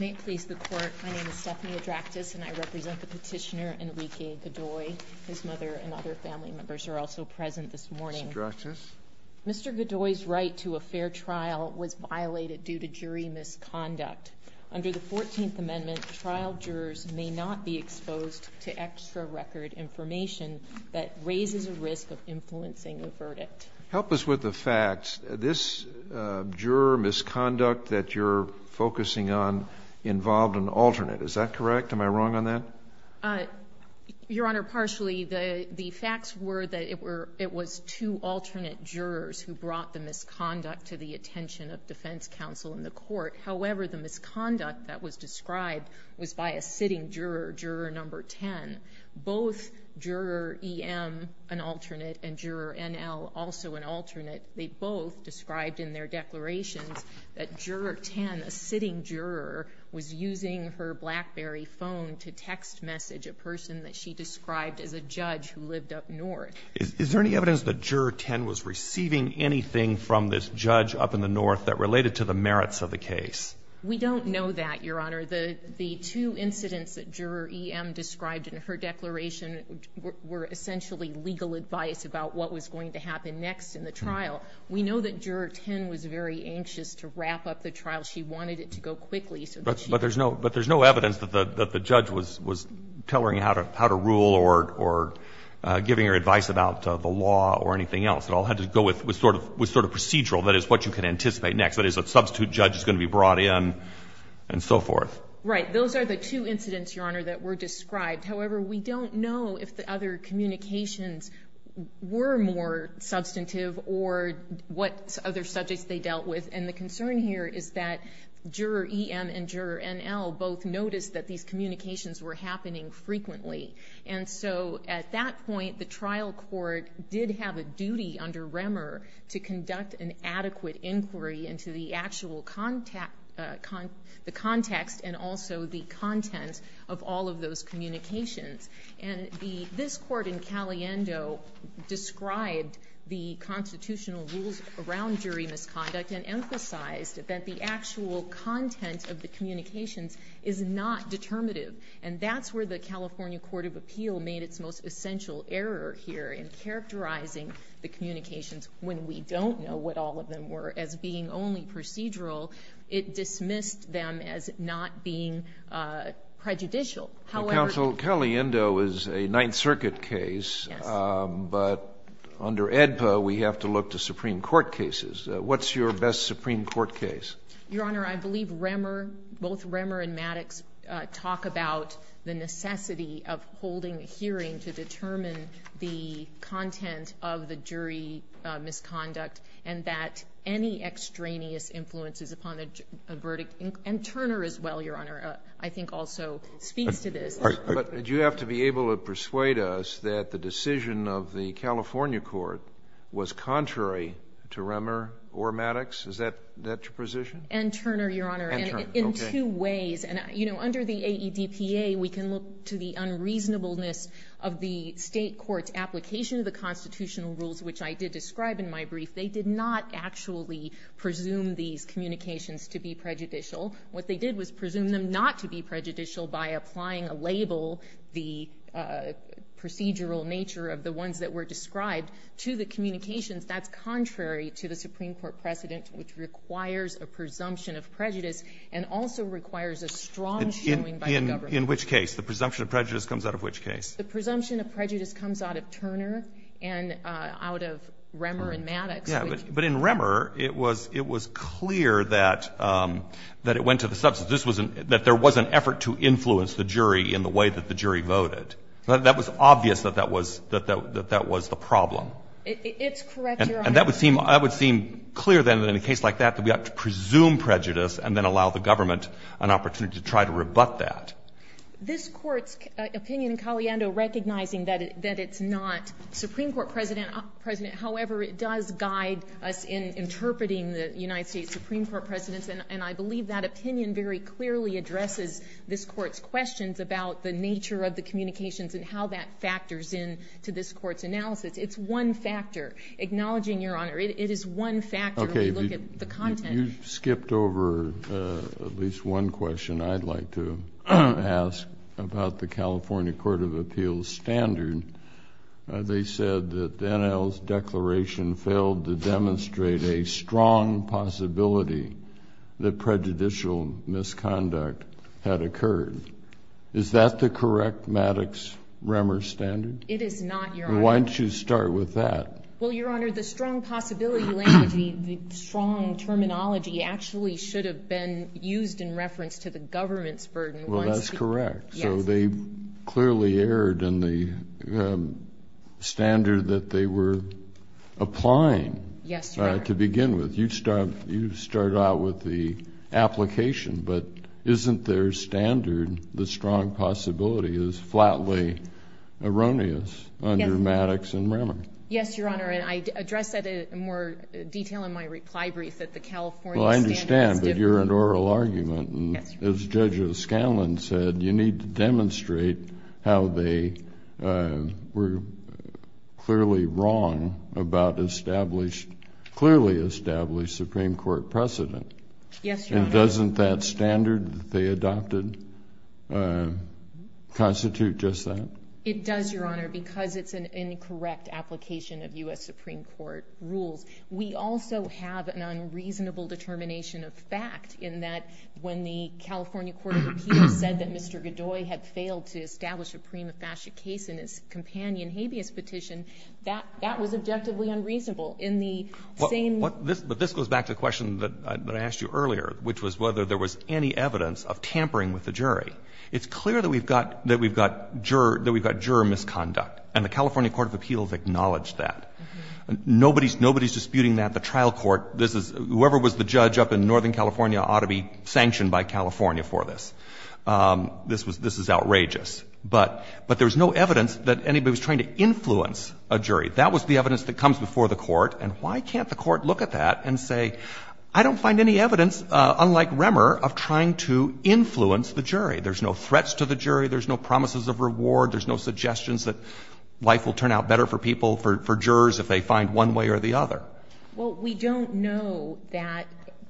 May it please the Court, my name is Stephanie Adractas and I represent the petitioner Enrique Godoy. His mother and other family members are also present this morning. Mr. Godoy's right to a fair trial was violated due to jury misconduct. Under the 14th Amendment, trial jurors may not be granted a verdict. Help us with the facts. This juror misconduct that you're focusing on involved an alternate. Is that correct? Am I wrong on that? Your Honor, partially. The facts were that it was two alternate jurors who brought the misconduct to the attention of defense counsel in the court. However, the misconduct that was described was by a sitting juror, juror number 10. Both juror EM, an alternate, and juror NL, also an alternate. They both described in their declarations that juror 10, a sitting juror, was using her BlackBerry phone to text message a person that she described as a judge who lived up north. Is there any evidence that juror 10 was receiving anything from this judge up in the north that related to the merits of the case? We don't know that, Your Honor. The two incidents that juror EM described in her declaration were essentially legal advice about what was going to happen next in the trial. We know that juror 10 was very anxious to wrap up the trial. She wanted it to go quickly so that she could... But there's no evidence that the judge was telling her how to rule or giving her advice about the law or anything else. It all had to go with sort of procedural, that is, what you can anticipate next. That is, a substitute judge is going to be brought in and so forth. Right. Those are the two incidents, Your Honor, that were described. However, we don't know if the other communications were more substantive or what other subjects they dealt with. And the concern here is that juror EM and juror NL both noticed that these communications were happening frequently. And so at that point, the trial court did have a duty under Remmer to conduct an adequate inquiry into the actual context and also the content of all of those communications. And this court in Caliendo described the constitutional rules around jury misconduct and emphasized that the actual content of the communications is not determinative. And that's where the California Court of Appeal made its most essential error here in characterizing the communications when we don't know what all of them were as being only prejudicial. However — The counsel, Caliendo, is a Ninth Circuit case, but under AEDPA, we have to look to Supreme Court cases. What's your best Supreme Court case? Your Honor, I believe Remmer, both Remmer and Maddox talk about the necessity of holding a hearing to determine the content of the jury misconduct and that any extraneous influences upon a verdict. And Turner, as well, Your Honor, I think also speaks to this. But you have to be able to persuade us that the decision of the California court was contrary to Remmer or Maddox. Is that your position? And Turner, Your Honor, in two ways. And, you know, under the AEDPA, we can look to the unreasonableness of the State court's application of the constitutional rules, which I did describe in my brief. They did not actually presume these communications to be prejudicial. What they did was presume them not to be prejudicial by applying a label, the procedural nature of the ones that were described, to the communications. That's contrary to the Supreme Court precedent, which requires a presumption of prejudice and also requires a strong showing by the government. In which case? The presumption of prejudice comes out of which case? The presumption of prejudice comes out of Turner and out of Remmer and Maddox. Yeah. But in Remmer, it was clear that it went to the substance. This was an — that there was an effort to influence the jury in the way that the jury voted. That was obvious that that was the problem. It's correct, Your Honor. And that would seem — that would seem clear, then, in a case like that, that we have to presume prejudice and then allow the government an opportunity to try to rebut that. This Court's opinion in Caliendo, recognizing that it's not Supreme Court precedent, however, it does guide us in interpreting the United States Supreme Court precedents. And I believe that opinion very clearly addresses this Court's questions about the nature of the communications and how that factors in to this Court's analysis. It's one factor. Acknowledging, Your Honor, it is one factor when we look at the content. You skipped over at least one question I'd like to ask about the California Court of Appeals standard. They said that the NL's declaration failed to demonstrate a strong possibility that prejudicial misconduct had occurred. Is that the correct Maddox-Remmer standard? It is not, Your Honor. Why don't you start with that? Well, Your Honor, the strong possibility language, the strong terminology, actually should have been used in reference to the government's burden. Well, that's correct. So they clearly erred in the standard that they were applying to begin with. You start out with the application, but isn't their standard, the strong possibility, is flatly erroneous under Maddox and Remmer? Yes, Your Honor, and I address that in more detail in my reply brief that the California standard is different. Well, I understand, but you're an oral argument, and as Judge Scanlon said, you need to demonstrate how they were clearly wrong about established, clearly established Supreme Court precedent. Yes, Your Honor. And doesn't that standard that they adopted constitute just that? It does, Your Honor, because it's an incorrect application of U.S. Supreme Court rules. We also have an unreasonable determination of fact in that when the California court of appeals said that Mr. Godoy had failed to establish a prima facie case in his companion habeas petition, that was objectively unreasonable in the same way. But this goes back to the question that I asked you earlier, which was whether there was any evidence of tampering with the jury. It's clear that we've got juror misconduct, and the California court of appeals acknowledged that. Nobody is disputing that. The trial court, this is — whoever was the judge up in northern California ought to be sanctioned by California for this. This was — this is outrageous. But there was no evidence that anybody was trying to influence a jury. That was the evidence that comes before the court. And why can't the court look at that and say, I don't find any evidence, unlike Remmer, of trying to influence the jury? There's no threats to the jury, there's no promises of reward, there's no suggestions that life will turn out better for people, for jurors, if they find one way or the other. Well, we don't know that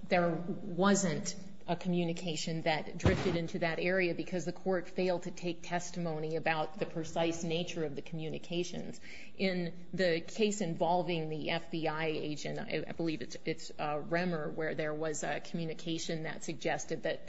there wasn't a communication that drifted into that area, because the court failed to take testimony about the precise nature of the communications. In the case involving the FBI agent, I believe it's Remmer, where there was a communication that suggested that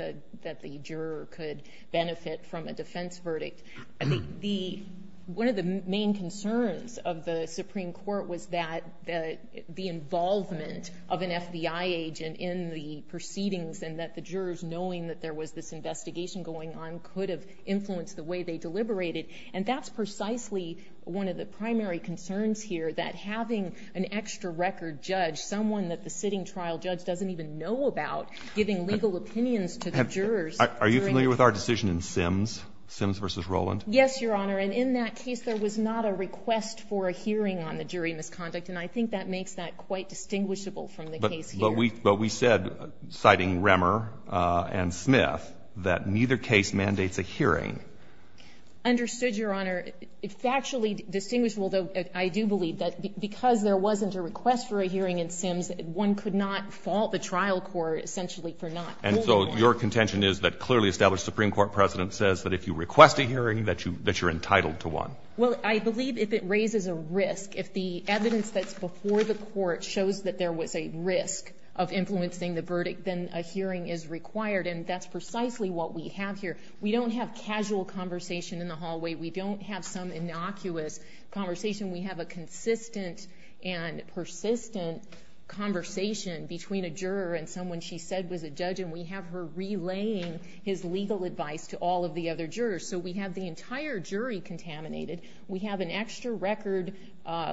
the juror could benefit from a defense verdict. The — one of the main concerns of the Supreme Court was that the involvement of an FBI agent in the proceedings and that the jurors, knowing that there was this investigation going on, could have influenced the way they deliberated. And that's precisely one of the primary concerns here, that having an extra record judge, someone that the sitting trial judge doesn't even know about, giving legal opinions to the jurors during a — Are you familiar with our decision in Sims, Sims v. Rowland? Yes, Your Honor. And in that case, there was not a request for a hearing on the jury misconduct. And I think that makes that quite distinguishable from the case here. But we said, citing Remmer and Smith, that neither case mandates a hearing. Understood, Your Honor. It's actually distinguishable, though, I do believe, that because there wasn't a request for a hearing in Sims, one could not fault the trial court essentially for not holding one. And so your contention is that clearly established Supreme Court precedent says that if you request a hearing, that you're entitled to one. Well, I believe if it raises a risk, if the evidence that's before the court shows that there was a risk of influencing the verdict, then a hearing is required. And that's precisely what we have here. We don't have casual conversation in the hallway. We don't have some innocuous conversation. We have a consistent and persistent conversation between a juror and someone she said was a judge. And we have her relaying his legal advice to all of the other jurors. So we have the entire jury contaminated. We have an extra record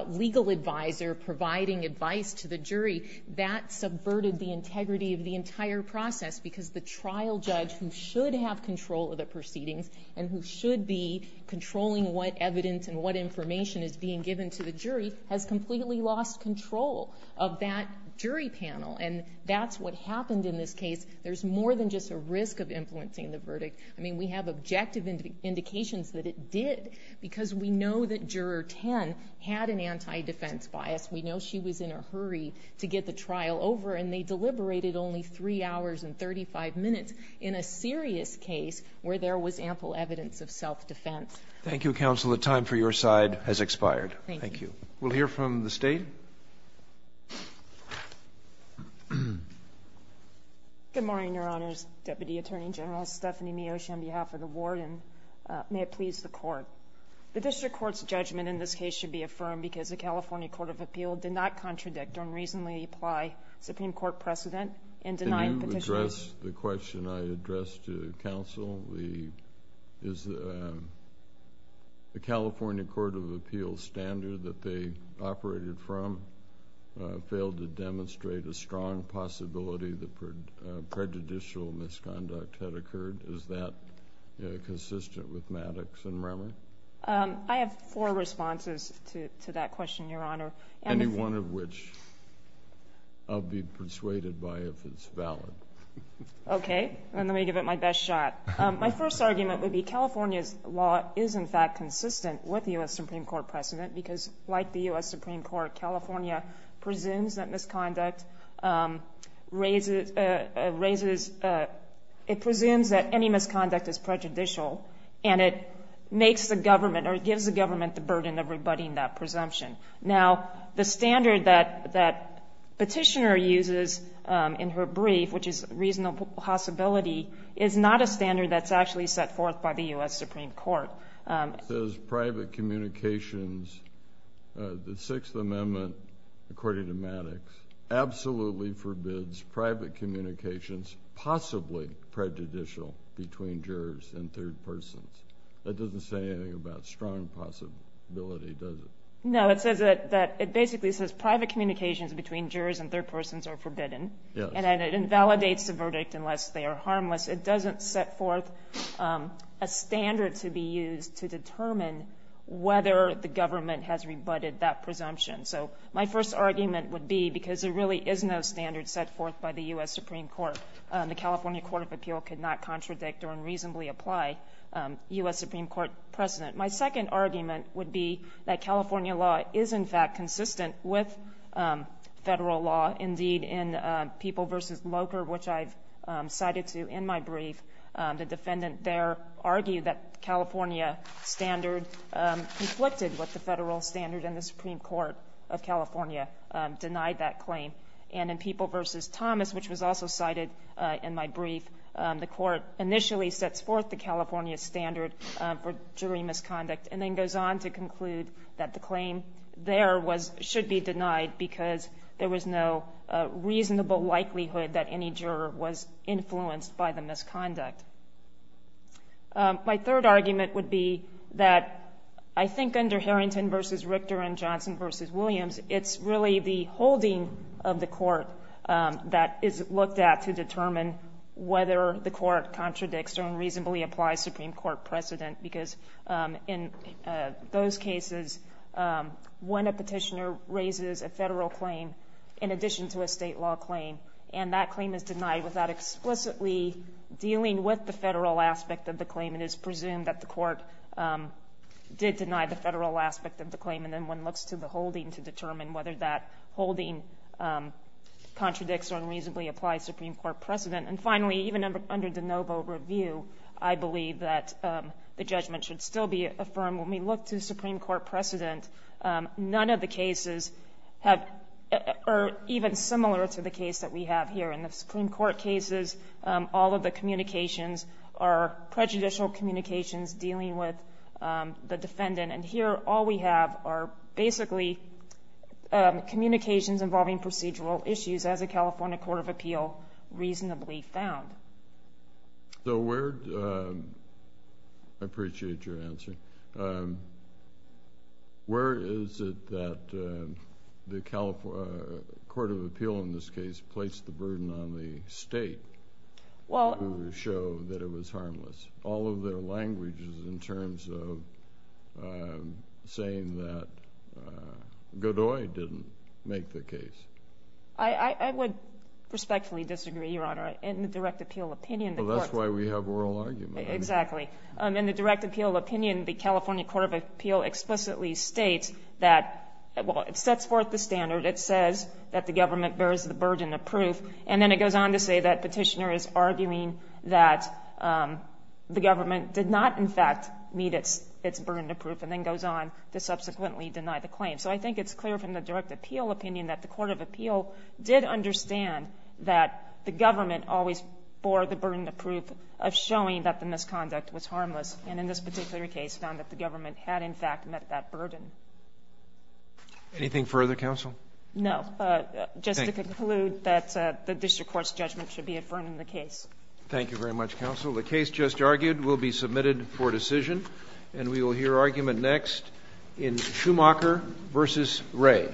legal advisor providing advice to the jury. That subverted the integrity of the entire process, because the trial judge who should have control of the proceedings and who should be controlling what evidence and what information is being given to the jury has completely lost control of that jury panel. And that's what happened in this case. There's more than just a risk of influencing the verdict. I mean, we have objective indications that it did, because we know that juror 10 had an anti-defense bias. We know she was in a hurry to get the trial over, and they deliberated only three hours and 35 minutes in a serious case where there was ample evidence of self-defense. Thank you, counsel. The time for your side has expired. Thank you. We'll hear from the state. Good morning, your honors. Deputy Attorney General Stephanie Miyoshi on behalf of the ward, and may it please the court. The district court's judgment in this case should be affirmed, because the California Court of Appeal did not contradict or unreasonably apply Supreme Court precedent in denying petitioners. The question I addressed to counsel is the California Court of Appeal standard that they operated from failed to demonstrate a strong possibility that prejudicial misconduct had occurred. Is that consistent with Maddox and Romer? I have four responses to that question, your honor. Any one of which I'll be persuaded by if it's valid. OK, then let me give it my best shot. My first argument would be California's law is in fact consistent with the US Supreme Court precedent, because like the US Supreme Court, California presumes that any misconduct is prejudicial, and it gives the government the burden of rebutting that presumption. Now, the standard that petitioner uses in her brief, which is reasonable possibility, is not a standard that's actually set forth by the US Supreme Court. It says private communications, the Sixth Amendment, according to Maddox, absolutely forbids private communications possibly prejudicial between jurors and third persons. That doesn't say anything about strong possibility, does it? No, it basically says private communications between jurors and third persons are forbidden, and it invalidates the verdict unless they are harmless. It doesn't set forth a standard to be used to determine whether the government has rebutted that presumption. So my first argument would be, because there really is no standard set forth by the US Supreme Court, the California Court of Appeal could not contradict or unreasonably apply US Supreme Court precedent. My second argument would be that California law is, in fact, consistent with federal law. Indeed, in People v. Loker, which I've cited to in my brief, the defendant there argued that California standard conflicted with the federal standard, and the Supreme Court of California denied that claim. And in People v. Thomas, which was also cited in my brief, the court initially sets forth the California standard for jury misconduct, and then goes on to conclude that the claim there should be denied because there was no reasonable likelihood that any juror was influenced by the misconduct. My third argument would be that I think under Harrington v. Richter and Johnson v. Williams, it's really the holding of the court that is looked at to determine whether the court contradicts or unreasonably applies Supreme Court precedent. Because in those cases, when a petitioner raises a federal claim in addition to a state law claim, and that claim is denied without explicitly dealing with the federal aspect of the claim, it is presumed that the court did deny the federal aspect of the claim. And then one looks to the holding to determine whether that holding contradicts or unreasonably applies Supreme Court precedent. And finally, even under de Novo review, I believe that the judgment should still be affirmed when we look to Supreme Court precedent. None of the cases are even similar to the case that we have here. In the Supreme Court cases, all of the communications are prejudicial communications dealing with the defendant. And here, all we have are basically communications involving procedural issues, as a California Court of Appeal reasonably found. So where, I appreciate your answer, where is it that the Court of Appeal, in this case, placed the burden on the state to show that it was harmless? All of their language is in terms of saying that Godoy didn't make the case. I would respectfully disagree, Your Honor. In the direct appeal opinion, the court- Well, that's why we have oral argument. Exactly. In the direct appeal opinion, the California Court of Appeal explicitly states that, well, it sets forth the standard. It says that the government bears the burden of proof. And then it goes on to say that Petitioner is arguing that the government did not, in fact, meet its burden of proof, and then goes on to subsequently deny the claim. So I think it's clear from the direct appeal opinion that the Court of Appeal did understand that the government always bore the burden of proof of showing that the misconduct was harmless. And in this particular case, found that the government had, in fact, met that burden. Anything further, counsel? No. Just to conclude that the district court's judgment should be affirmed in the case. Thank you very much, counsel. The case just argued will be submitted for decision. And we will hear argument next in Schumacher versus Wray.